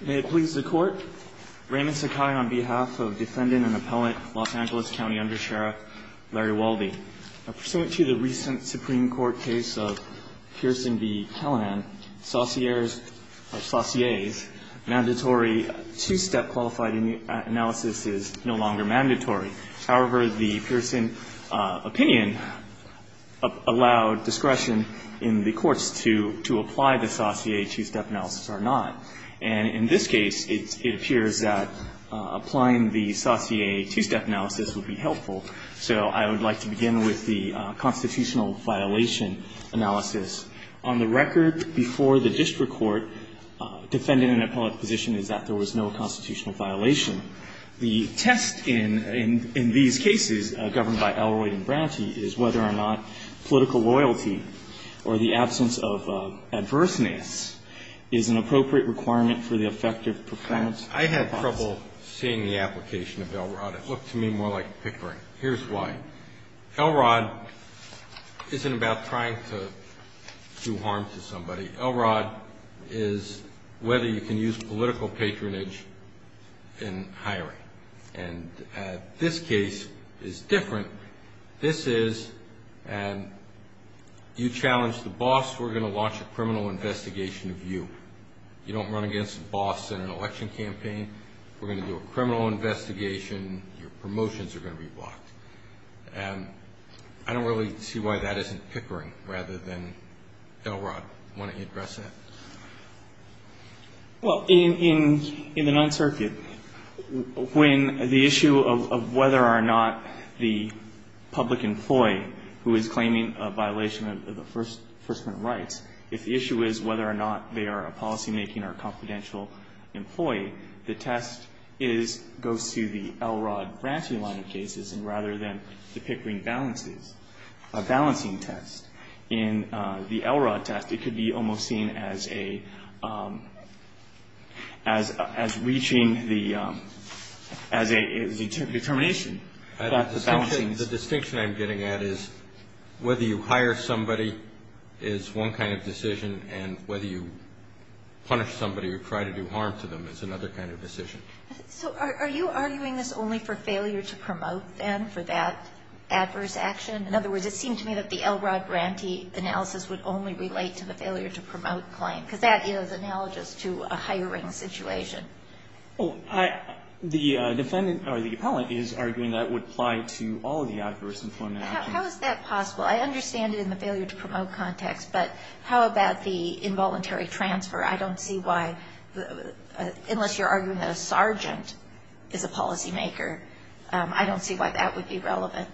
May it please the Court, Raymond Sakai on behalf of Defendant and Appellant Los Angeles County Undersheriff Larry Waldie. Pursuant to the recent Supreme Court case of Pearson v. Kallinan, sauciers or sauciers, mandatory two-step qualified analysis is no longer mandatory. However, the Pearson opinion allowed discretion in the courts to apply the saucier two-step analysis or not. And in this case, it appears that applying the saucier two-step analysis would be helpful. So I would like to begin with the constitutional violation analysis. On the record, before the district court, defendant and appellate position is that there was no constitutional violation. The test in these cases governed by Elroyd and Browdy is whether or not political loyalty or the absence of adverseness is an appropriate requirement for the effective performance of the hypothesis. I had trouble seeing the application of Elroyd. It looked to me more like Pickering. Here's why. Elroyd isn't about trying to do harm to somebody. Elroyd is whether you can use political patronage in hiring. And this case is different. This is, you challenge the boss, we're going to launch a criminal investigation of you. You don't run against the boss in an election campaign, we're going to do a criminal investigation, your promotions are going to be blocked. And I don't really see why that isn't Pickering, rather than Elroyd. Why don't you address that? Well, in the Ninth Circuit, when the issue of whether or not the public employee who is claiming a violation of the First Amendment rights, if the issue is whether or not they are a policymaking or confidential employee, the test is, goes to the Elroyd branching line of cases, and rather than the Pickering balances, a balancing test, in the Elroyd test, it could be almost seen as a, as reaching the, as a determination. The distinction I'm getting at is whether you hire somebody is one kind of decision, and whether you punish somebody or try to do harm to them is another kind of decision. So are you arguing this only for failure to promote, then, for that adverse action? In other words, it seemed to me that the Elroyd grantee analysis would only relate to the failure to promote claim, because that is analogous to a hiring situation. The defendant, or the appellant, is arguing that would apply to all of the adverse employment actions. How is that possible? I understand it in the failure to promote context, but how about the involuntary transfer? I don't see why, unless you're arguing that a sergeant is a policymaker, I don't see why that would be relevant.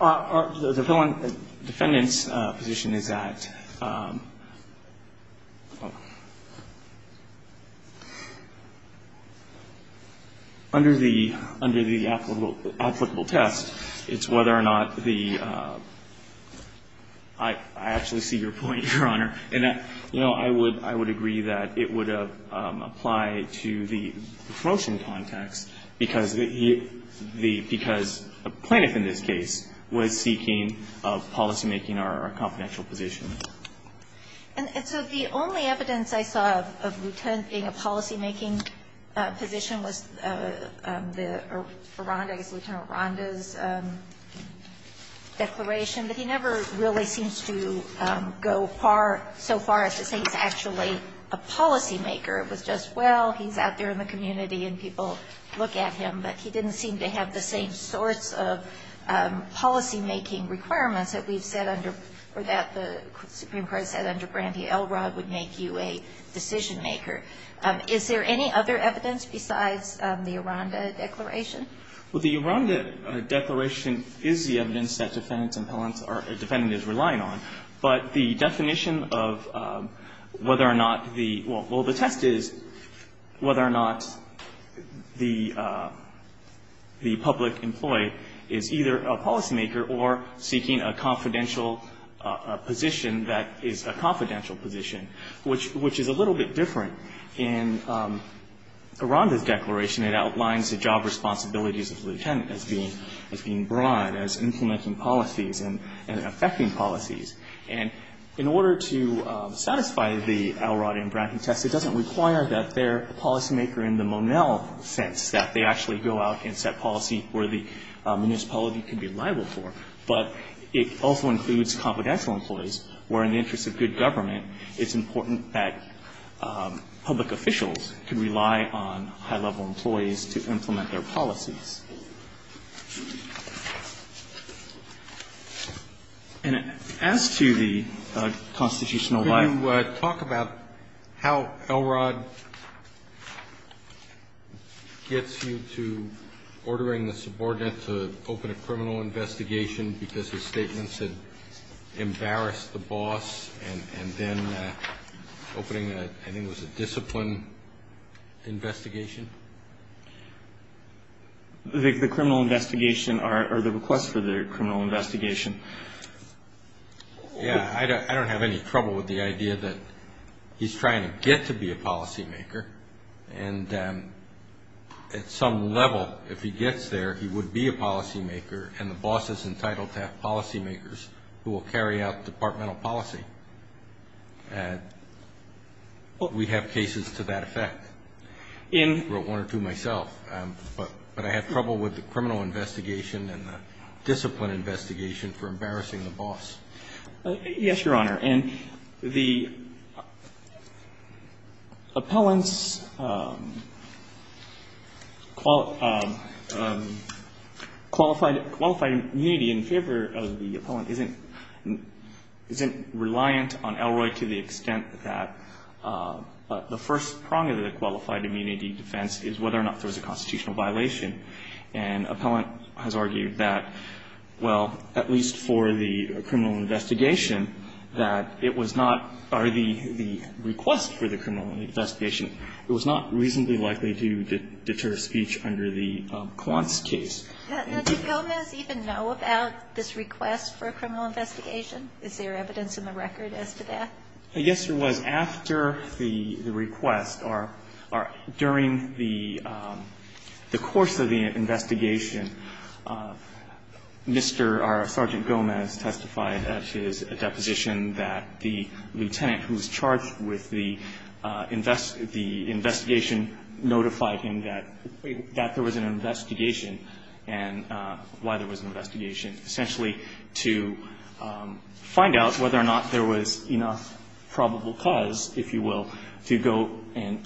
The defendant's position is that under the, under the applicable test, it's whether or not the, I actually see your point, Your Honor, in that, you know, I would, I would agree that it would apply to the promotion context, because the, you know, the, because a plaintiff in this case was seeking a policymaking or a confidential position. And so the only evidence I saw of a lieutenant being a policymaking position was the, I guess, Lieutenant Ronda's declaration, that he never really seems to go so far as to say he's actually a policymaker. It was just, well, he's out there in the community and people look at him, but he didn't seem to have the same sorts of policymaking requirements that we've said under, or that the Supreme Court said under Brandy Elrod would make you a decisionmaker. Is there any other evidence besides the Ronda declaration? Well, the Ronda declaration is the evidence that defendants and appellants are, or defendants are relying on. But the definition of whether or not the, well, the test is whether or not the public employee is either a policymaker or seeking a confidential position that is a confidential position, which is a little bit different. In Ronda's declaration, it outlines the job responsibilities of the lieutenant as being broad, as implementing policies and affecting policies. And in order to satisfy the Elrod and Brandy test, it doesn't require that they're a policymaker in the Monell sense, that they actually go out and set policy where the municipality can be liable for. But it also includes confidential employees, where in the interest of good government, it's important that public officials can rely on high-level employees to implement their policies. And as to the constitutional liability. Can you talk about how Elrod gets you to ordering the subordinate to open a criminal investigation because his statements had embarrassed the boss, and then opening a, I think it was a discipline investigation? The criminal investigation, or the request for the criminal investigation. Yeah, I don't have any trouble with the idea that he's trying to get to be a policymaker. And at some level, if he gets there, he would be a policymaker, and the boss is entitled to have policymakers who will carry out departmental policy. We have cases to that effect. I wrote one or two myself. But I have trouble with the criminal investigation and the discipline investigation for embarrassing the boss. Yes, Your Honor. And the appellant's qualified immunity in favor of the appellant isn't reliant on Elrod to the extent that the first prong of the qualified immunity defense is whether or not there was a constitutional violation. And appellant has argued that, well, at least for the criminal investigation, that it was not, or the request for the criminal investigation, it was not reasonably likely to deter speech under the Quantz case. Did Gomez even know about this request for a criminal investigation? Is there evidence in the record as to that? Yes, there was. After the request, or during the course of the investigation, Mr. or Sergeant Gomez testified at his deposition that the lieutenant who's charged with the investigation notified him that there was an investigation and why there was an investigation, essentially to find out whether or not there was enough probable cause, if you will, to go and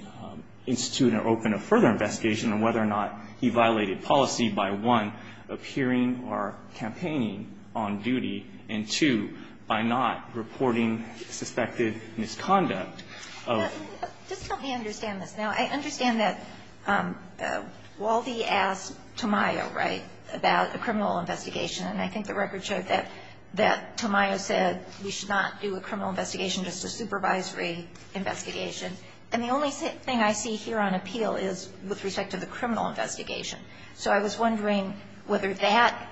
institute or open a further investigation, and whether or not he violated policy by, one, appearing or campaigning on duty, and, two, by not reporting suspected misconduct of. Just help me understand this. Now, I understand that Waldy asked Tamayo, right, about a criminal investigation. And I think the record showed that Tamayo said we should not do a criminal investigation, just a supervisory investigation. And the only thing I see here on appeal is with respect to the criminal investigation. So I was wondering whether that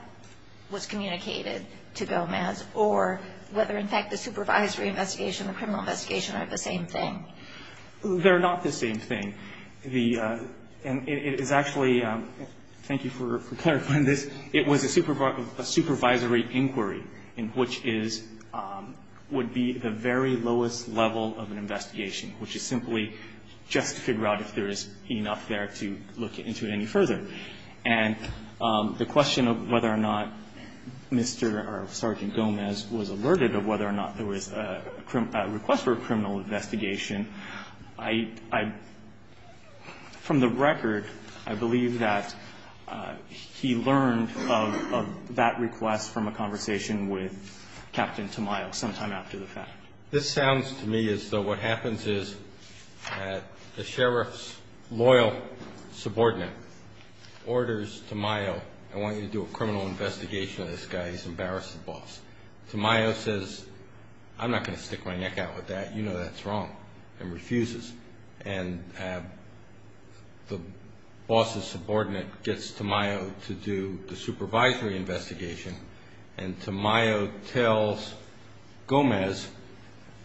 was communicated to Gomez or whether, in fact, the supervisory investigation and the criminal investigation are the same thing. They're not the same thing. The – and it is actually – thank you for clarifying this. It was a supervisory inquiry in which is – would be the very lowest level of an investigation, which is simply just to figure out if there is enough there to look into it any further. And the question of whether or not Mr. or Sergeant Gomez was alerted of whether or not there was a request for a criminal investigation, I – from the record, I believe that he learned of that request from a conversation with Captain Tamayo sometime after the fact. This sounds to me as though what happens is that the sheriff's loyal subordinate orders Tamayo, I want you to do a criminal investigation of this guy. He's embarrassed the boss. Tamayo says, I'm not going to stick my neck out with that. You know that's wrong, and refuses. And the boss's subordinate gets Tamayo to do the supervisory investigation, and Tamayo tells Gomez,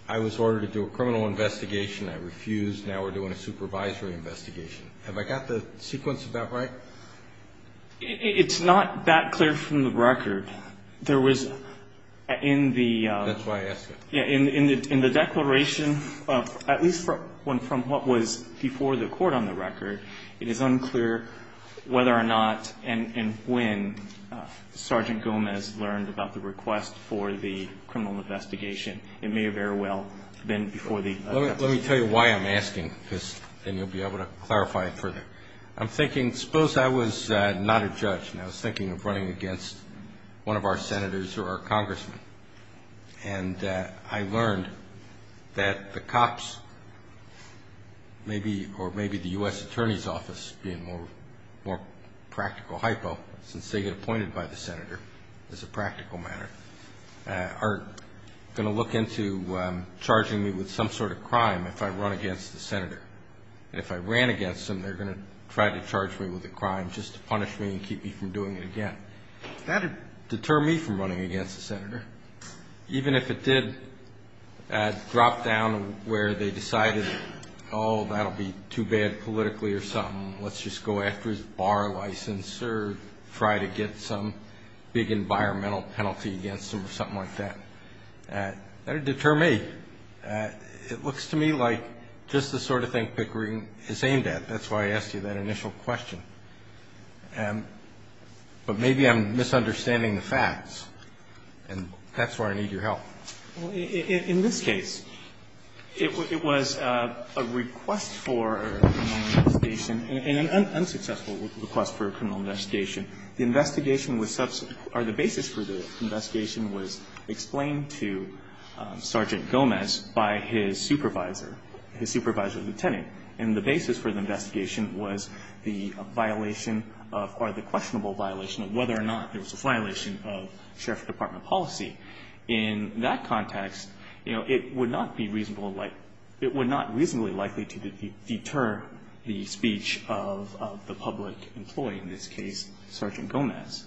I was ordered to do a criminal investigation. I refused. Now we're doing a supervisory investigation. Have I got the sequence of that right? It's not that clear from the record. There was in the – That's why I asked it. In the declaration, at least from what was before the court on the record, it is unclear whether or not and when Sergeant Gomez learned about the request for the criminal investigation. It may have very well been before the – Let me tell you why I'm asking this, and you'll be able to clarify it further. I'm thinking, suppose I was not a judge, and I was thinking of running against one of our senators or our congressmen, and I learned that the cops, maybe, or maybe the U.S. Attorney's Office being a more practical hypo, since they get appointed by the senator as a practical matter, are going to look into charging me with some sort of crime if I run against the senator. If I ran against him, they're going to try to charge me with a crime just to punish me and keep me from doing it again. That would deter me from running against the senator, even if it did drop down where they decided, oh, that will be too bad politically or something. Let's just go after his bar license or try to get some big environmental penalty against him or something like that. That would deter me. It looks to me like just the sort of thing Pickering is aimed at. That's why I asked you that initial question. But maybe I'm misunderstanding the facts, and that's why I need your help. In this case, it was a request for a criminal investigation, an unsuccessful request for a criminal investigation. The investigation was or the basis for the investigation was explained to Sergeant Gomez by his supervisor, his supervisor lieutenant. And the basis for the investigation was the violation of or the questionable violation of whether or not it was a violation of sheriff's department policy. In that context, you know, it would not be reasonable, it would not reasonably likely to deter the speech of the public employee, in this case, Sergeant Gomez.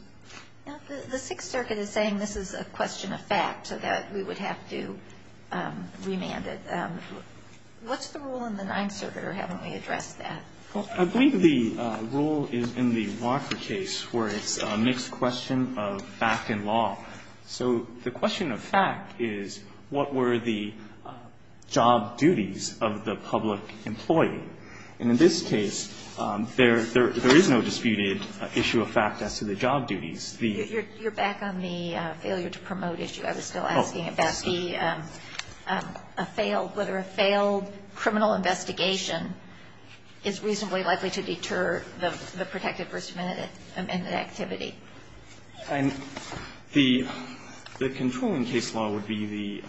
Now, the Sixth Circuit is saying this is a question of fact, so that we would have to remand it. What's the rule in the Ninth Circuit, or haven't we addressed that? I believe the rule is in the Walker case where it's a mixed question of fact and law. So the question of fact is what were the job duties of the public employee. And in this case, there is no disputed issue of fact as to the job duties. You're back on the failure to promote issue. I was still asking about the failed, whether a failed criminal investigation is reasonably likely to deter the protected versus amended activity. And the controlling case law would be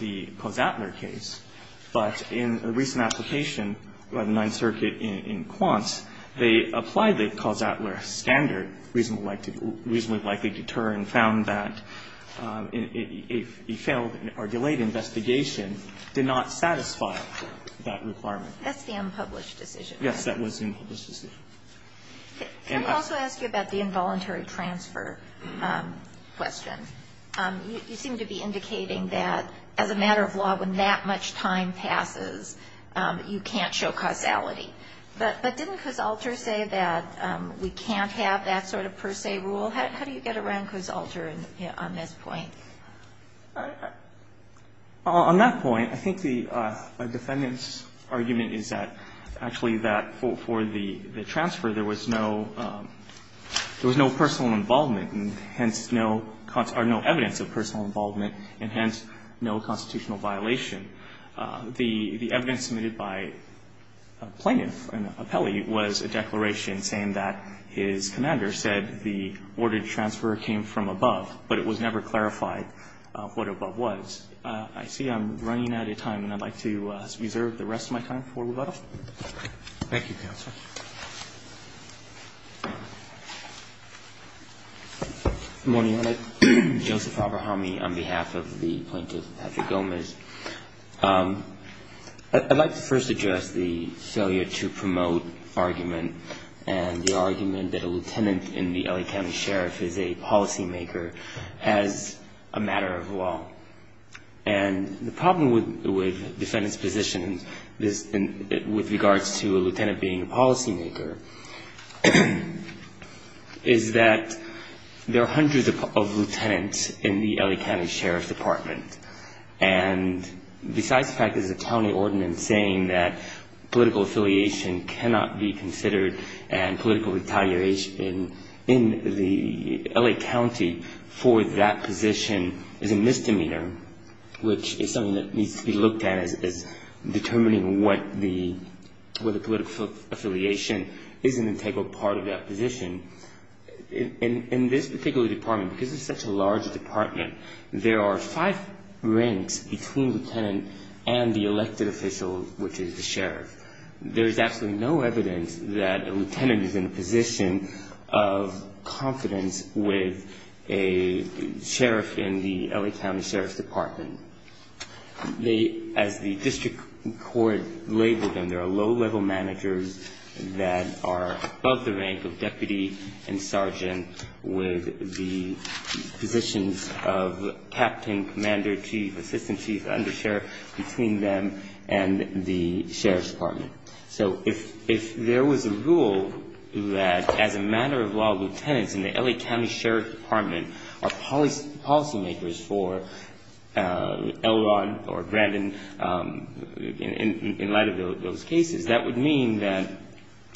the Kozatler case. But in a recent application by the Ninth Circuit in Quance, they applied the Kozatler standard, reasonably likely to deter, and found that a failed or delayed investigation did not satisfy that requirement. That's the unpublished decision. Yes, that was the unpublished decision. Can I also ask you about the involuntary transfer question? You seem to be indicating that, as a matter of law, when that much time passes, you can't show causality. But didn't Kozatler say that we can't have that sort of per se rule? How do you get around Kozatler on this point? On that point, I think the Defendant's argument is that actually that for the transfer, there was no personal involvement and hence no evidence of personal involvement and hence no constitutional violation. The evidence submitted by a plaintiff, an appellee, was a declaration saying that his commander said the ordered transfer came from above, but it was never clarified what above was. I see I'm running out of time, and I'd like to reserve the rest of my time for Reveto. Good morning, Your Honor. Joseph Abrahami on behalf of the plaintiff Patrick Gomez. I'd like to first address the failure to promote argument and the argument that a lieutenant in the L.A. County Sheriff is a policymaker as a matter of law. And the problem with Defendant's position with regards to a lieutenant being a policymaker is that there are hundreds of lieutenants in the L.A. County Sheriff's Department. And besides the fact that there's a county ordinance saying that political affiliation cannot be considered and political retaliation in the L.A. County for that position is a misdemeanor, which is something that needs to be looked at as determining what the political affiliation is an integral part of that position. In this particular department, because it's such a large department, there are five ranks between lieutenant and the elected official, which is the sheriff. There is absolutely no evidence that a lieutenant is in a position of confidence with a sheriff As the district court labeled them, there are low-level managers that are above the rank of deputy and sergeant with the positions of captain, commander, chief, assistant chief, undersheriff, between them and the sheriff's department. So if there was a rule that as a matter of law, lieutenants in the L.A. County Sheriff's Department are policymakers for Elrod or Brandon, in light of those cases, that would mean that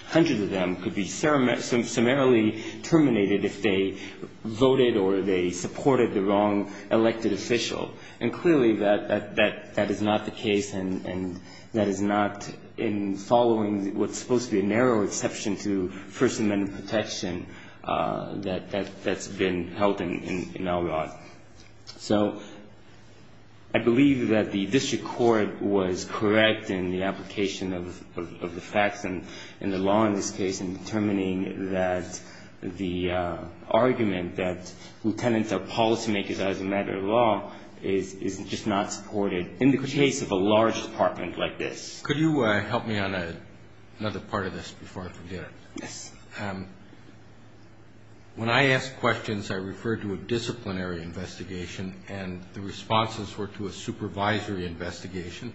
hundreds of them could be summarily terminated if they voted or they supported the wrong elected official. And clearly that is not the case, and that is not in following what's supposed to be a narrow exception to First Amendment protection that's been held in Elrod. So I believe that the district court was correct in the application of the facts and the law in this case in determining that the argument that lieutenants are policymakers as a matter of law is just not supported in the case of a large department like this. Could you help me on another part of this before I forget it? Yes. When I ask questions, I refer to a disciplinary investigation and the responses were to a supervisory investigation.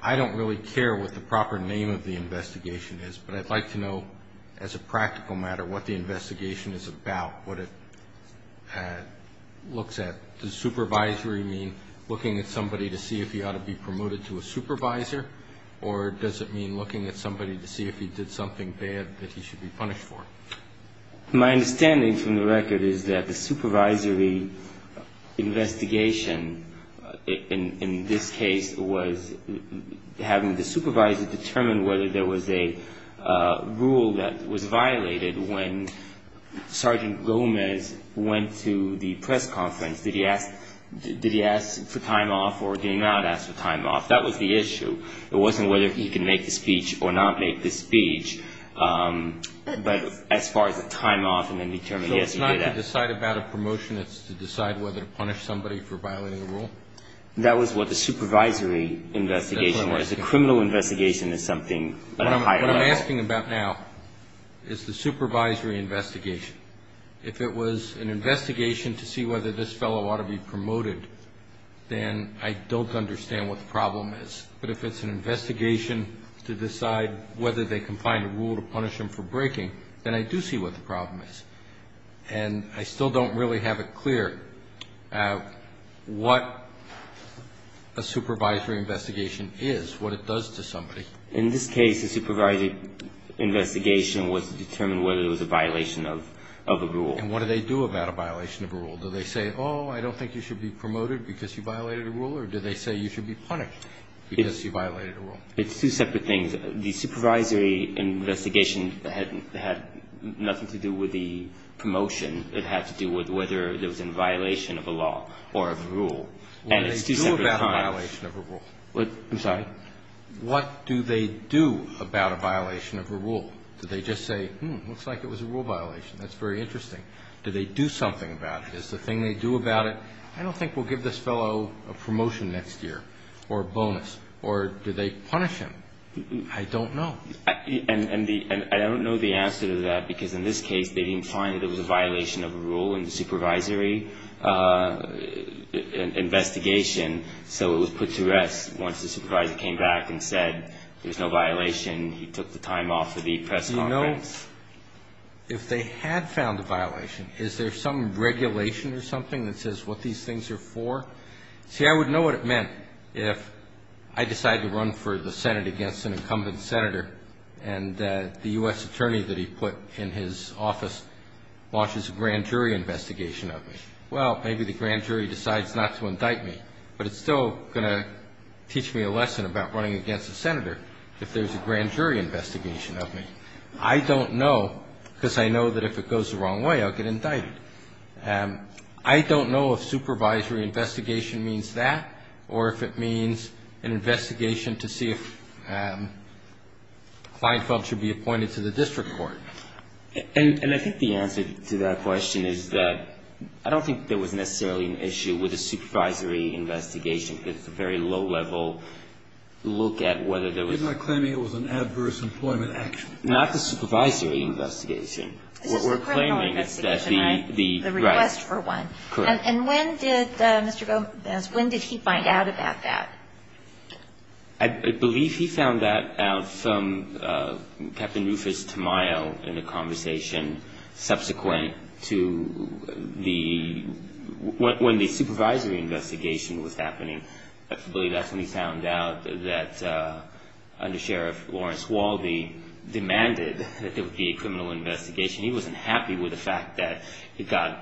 I don't really care what the proper name of the investigation is, but I'd like to know as a practical matter what the investigation is about, what it looks at. Does supervisory mean looking at somebody to see if he ought to be promoted to a supervisor, or does it mean looking at somebody to see if he did something bad that he should be punished for? My understanding from the record is that the supervisory investigation in this case was having the supervisor determine whether there was a rule that was violated when Sergeant Gomez went to the press conference. Did he ask for time off or did he not ask for time off? That was the issue. It wasn't whether he could make the speech or not make the speech. But as far as the time off and then determining, yes, he did ask. So it's not to decide about a promotion. It's to decide whether to punish somebody for violating a rule? That was what the supervisory investigation was. The criminal investigation is something at a higher level. What I'm asking about now is the supervisory investigation. If it was an investigation to see whether this fellow ought to be promoted, then I don't understand what the problem is. But if it's an investigation to decide whether they can find a rule to punish him for breaking, then I do see what the problem is. And I still don't really have it clear what a supervisory investigation is, what it does to somebody. In this case, the supervisory investigation was to determine whether it was a violation of a rule. And what do they do about a violation of a rule? Do they say, oh, I don't think you should be promoted because you violated a rule? Or do they say you should be punished because you violated a rule? It's two separate things. The supervisory investigation had nothing to do with the promotion. It had to do with whether there was a violation of a law or of a rule. And it's two separate times. What do they do about a violation of a rule? I'm sorry? What do they do about a violation of a rule? Do they just say, hmm, looks like it was a rule violation. That's very interesting. Do they do something about it? Is the thing they do about it? I don't think we'll give this fellow a promotion next year or a bonus. Or do they punish him? I don't know. And I don't know the answer to that because in this case they didn't find that it was a violation of a rule in the supervisory investigation, so it was put to rest once the supervisor came back and said there was no violation. He took the time off of the press conference. Do you know if they had found a violation? Is there some regulation or something that says what these things are for? See, I would know what it meant if I decided to run for the Senate against an incumbent senator and the U.S. attorney that he put in his office launches a grand jury investigation of me. Well, maybe the grand jury decides not to indict me, but it's still going to teach me a lesson about running against a senator if there's a grand jury investigation of me. I don't know because I know that if it goes the wrong way I'll get indicted. I don't know if supervisory investigation means that or if it means an investigation to see if Kleinfeld should be appointed to the district court. And I think the answer to that question is that I don't think there was necessarily an issue with a supervisory investigation because it's a very low-level look at whether there was an adverse employment action. Not the supervisory investigation. This is a criminal investigation, right? The request for one. Correct. And when did Mr. Gomez, when did he find out about that? I believe he found that out from Captain Rufus Tamayo in a conversation subsequent to the, when the supervisory investigation was happening. I believe that's when he found out that Under Sheriff Lawrence Waldie demanded that there be a criminal investigation. He wasn't happy with the fact that it got,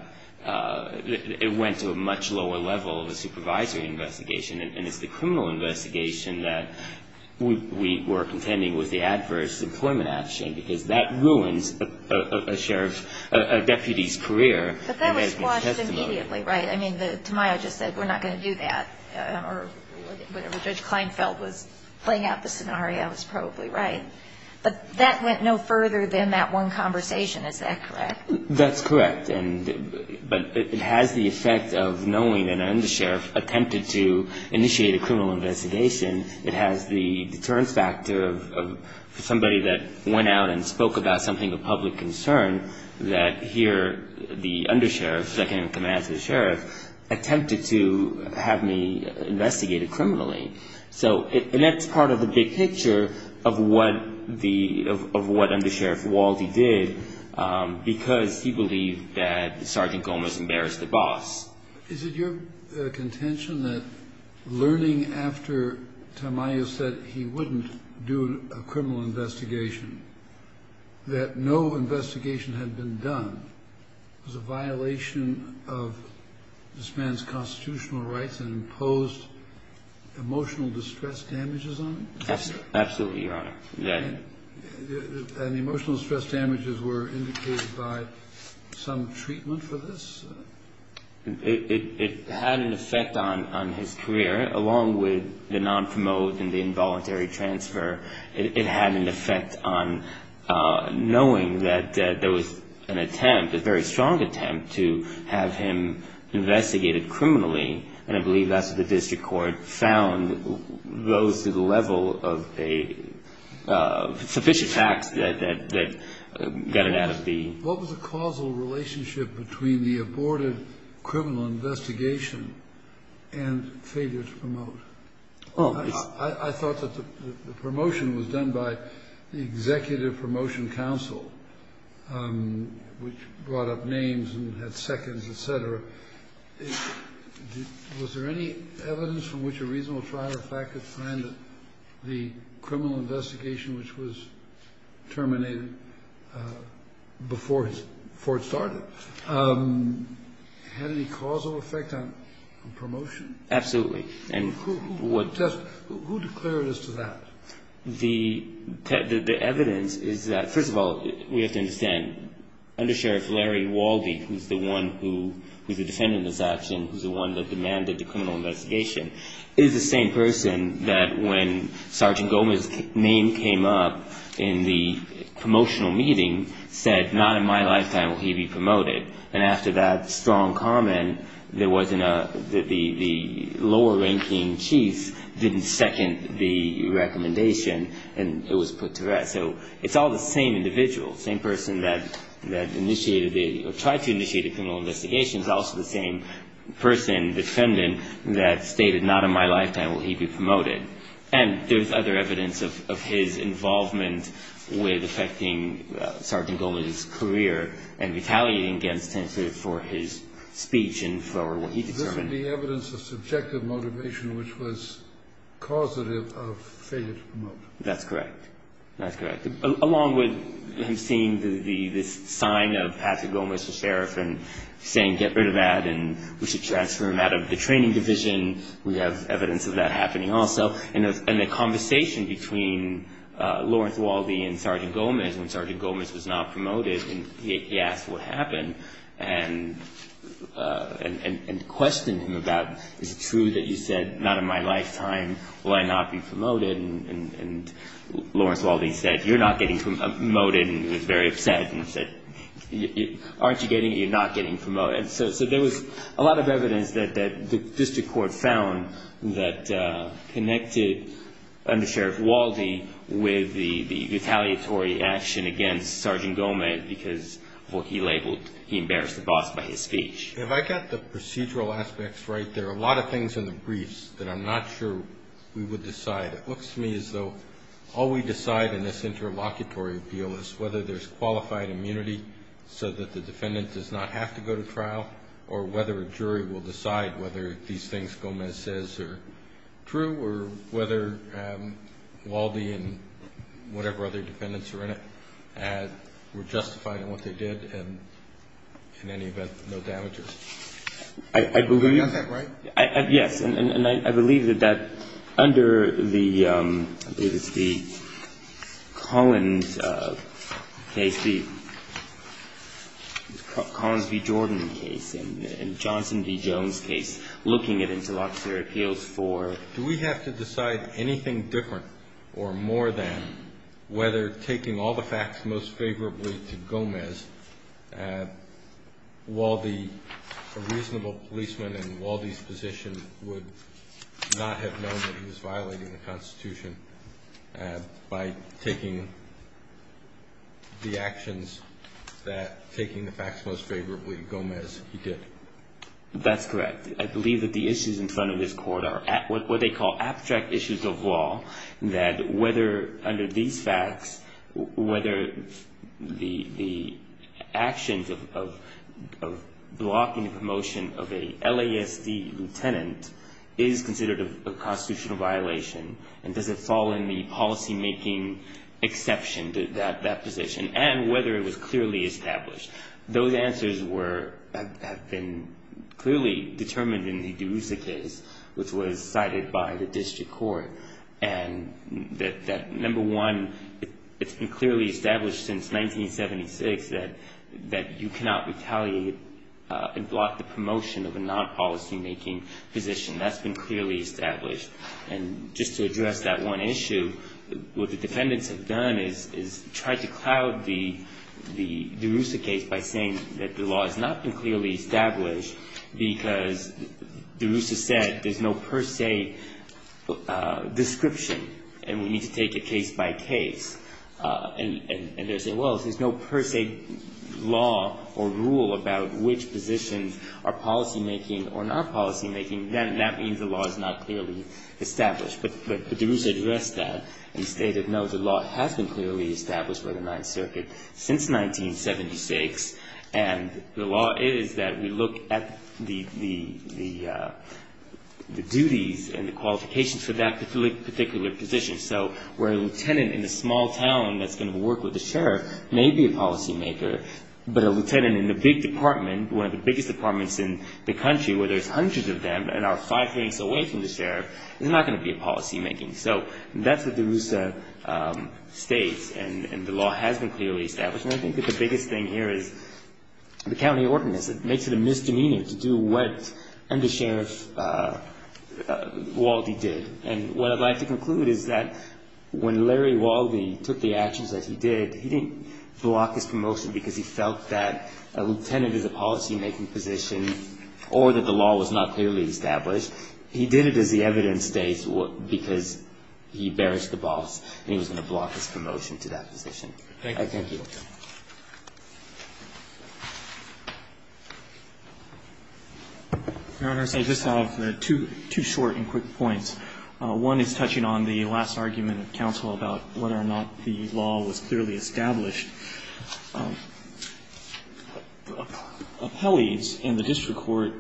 it went to a much lower level of a supervisory investigation. And it's the criminal investigation that we were contending was the adverse employment action because that ruins a sheriff's, a deputy's career. But that was quashed immediately, right? I mean, Tamayo just said, we're not going to do that. Or whatever Judge Kleinfeld was playing out the scenario was probably right. But that went no further than that one conversation. Is that correct? That's correct. But it has the effect of knowing that an undersheriff attempted to initiate a criminal investigation. It has the deterrence factor of somebody that went out and spoke about something of public concern that here the undersheriff, second in command to the sheriff, attempted to have me investigated criminally. So that's part of the big picture of what the, of what Undersheriff Waldie did because he believed that Sergeant Gomez embarrassed the boss. Is it your contention that learning after Tamayo said he wouldn't do a criminal investigation, that no investigation had been done, was a violation of this man's constitutional rights and imposed emotional distress damages on him? Absolutely, Your Honor. And the emotional distress damages were indicated by some treatment for this? It had an effect on his career along with the non-promote and the involuntary transfer. It had an effect on knowing that there was an attempt, a very strong attempt, to have him investigated criminally. And I believe that's what the district court found goes to the level of sufficient facts that got it out of the... What was the causal relationship between the aborted criminal investigation and failure to promote? I thought that the promotion was done by the Executive Promotion Council, which brought up names and had seconds, et cetera. Was there any evidence from which a reasonable trial or fact could find that the criminal investigation, which was terminated before it started, had any causal effect on promotion? Absolutely. And who declared as to that? The evidence is that, first of all, we have to understand, Undersheriff Larry Walby, who's the one who's the defendant in this action, who's the one that demanded the criminal investigation, is the same person that when Sergeant Gomez's name came up in the promotional meeting said, not in my lifetime will he be promoted. And after that strong comment, there wasn't a... The lower-ranking chief didn't second the recommendation, and it was put to rest. So it's all the same individual, same person that initiated or tried to initiate a criminal investigation, but also the same person, defendant, that stated, not in my lifetime will he be promoted. And there's other evidence of his involvement with affecting Sergeant Gomez's career and retaliating against him for his speech and for what he determined. This would be evidence of subjective motivation, which was causative of failure to promote him. That's correct. That's correct. Along with him seeing this sign of Patrick Gomez, the sheriff, and saying get rid of that and we should transfer him out of the training division, we have evidence of that happening also. And the conversation between Lawrence Waldy and Sergeant Gomez, when Sergeant Gomez was not promoted and he asked what happened and questioned him about, is it true that you said, not in my lifetime will I not be promoted? And Lawrence Waldy said, you're not getting promoted. And he was very upset and said, aren't you getting it? You're not getting promoted. So there was a lot of evidence that the district court found that connected Under Sheriff Waldy with the retaliatory action against Sergeant Gomez because of what he labeled, he embarrassed the boss by his speech. If I got the procedural aspects right, there are a lot of things in the briefs that I'm not sure we would decide. It looks to me as though all we decide in this interlocutory appeal is whether there's qualified immunity so that the defendant does not have to go to trial or whether a jury will decide whether these things Gomez says are true or whether Waldy and whatever other defendants are in it were justified in what they did and in any event, no damages. You got that right? Yes. And I believe that under the Collins case, the Collins v. Jordan case and Johnson v. Jones case, looking at interlocutory appeals for do we have to decide anything different or more than whether taking all the facts most favorably to Gomez, Waldy, a reasonable policeman in Waldy's position, would not have known that he was violating the Constitution by taking the actions that taking the facts most favorably to Gomez he did. That's correct. I believe that the issues in front of this court are what they call abstract issues of law that whether under these facts, whether the actions of blocking the promotion of a LASD lieutenant is considered a constitutional violation and does it fall in the policymaking exception to that position and whether it was clearly established. Those answers have been clearly determined in the DeRusa case which was cited by the district court and that number one, it's been clearly established since 1976 that you cannot retaliate and block the promotion of a non-policymaking position. That's been clearly established. And just to address that one issue, what the defendants have done is tried to cloud the DeRusa case by saying that the law has not been clearly established because DeRusa said there's no per se description and we need to take it case by case. And they say, well, if there's no per se law or rule about which positions are policymaking or not policymaking, then that means the law is not clearly established. But DeRusa addressed that and stated, no, the law has been clearly established by the Ninth Circuit since 1976 and the law is that we look at the duties and the qualifications for that particular position. So where a lieutenant in a small town that's going to work with the sheriff may be a policymaker, but a lieutenant in a big department, one of the biggest departments in the country where there's hundreds of them and are five minutes away from the sheriff, is not going to be a policymaking. So that's what DeRusa states and the law has been clearly established. And I think that the biggest thing here is the county ordinance. It makes it a misdemeanor to do what under Sheriff Waldie did. And what I'd like to conclude is that when Larry Waldie took the actions that he did, he didn't block his promotion because he felt that a lieutenant is a policymaking position or that the law was not clearly established. He did it as the evidence states because he bearished the boss and he was going to block his promotion to that position. Thank you. Thank you. Your Honors, I just have two short and quick points. One is touching on the last argument of counsel about whether or not the law was clearly established. The appellees in the district court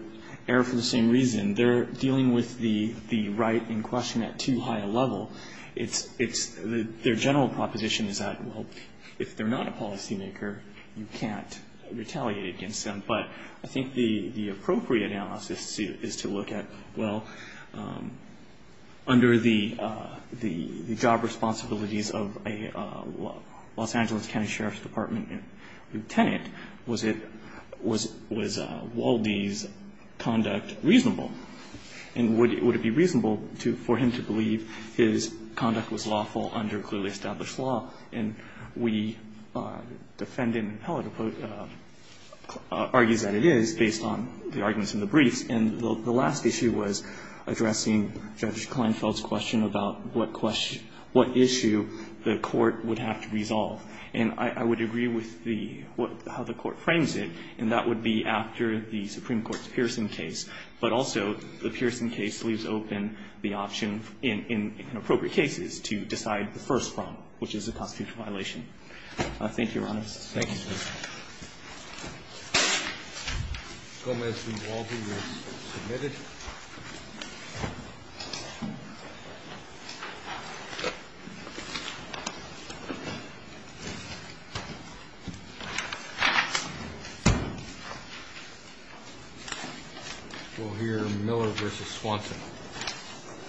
err for the same reason. They're dealing with the right in question at too high a level. Their general proposition is that, well, if they're not a policymaker, you can't retaliate against them. But I think the appropriate analysis is to look at, well, under the job responsibilities of a Los Angeles County Sheriff's Department lieutenant, was it – was Waldie's conduct reasonable? And would it be reasonable for him to believe his conduct was lawful under clearly established law? And we defend him, and the appellate argues that it is based on the arguments in the briefs. And the last issue was addressing Judge Kleinfeld's question about what issue the court would have to resolve. And I would agree with the – how the court frames it, and that would be after the Supreme Court's Pearson case. But also, the Pearson case leaves open the option in appropriate cases to decide the first problem, which is a constitutional violation. Thank you, Your Honors. Thank you. Gomez v. Waldie is submitted. We'll hear Miller v. Swanson.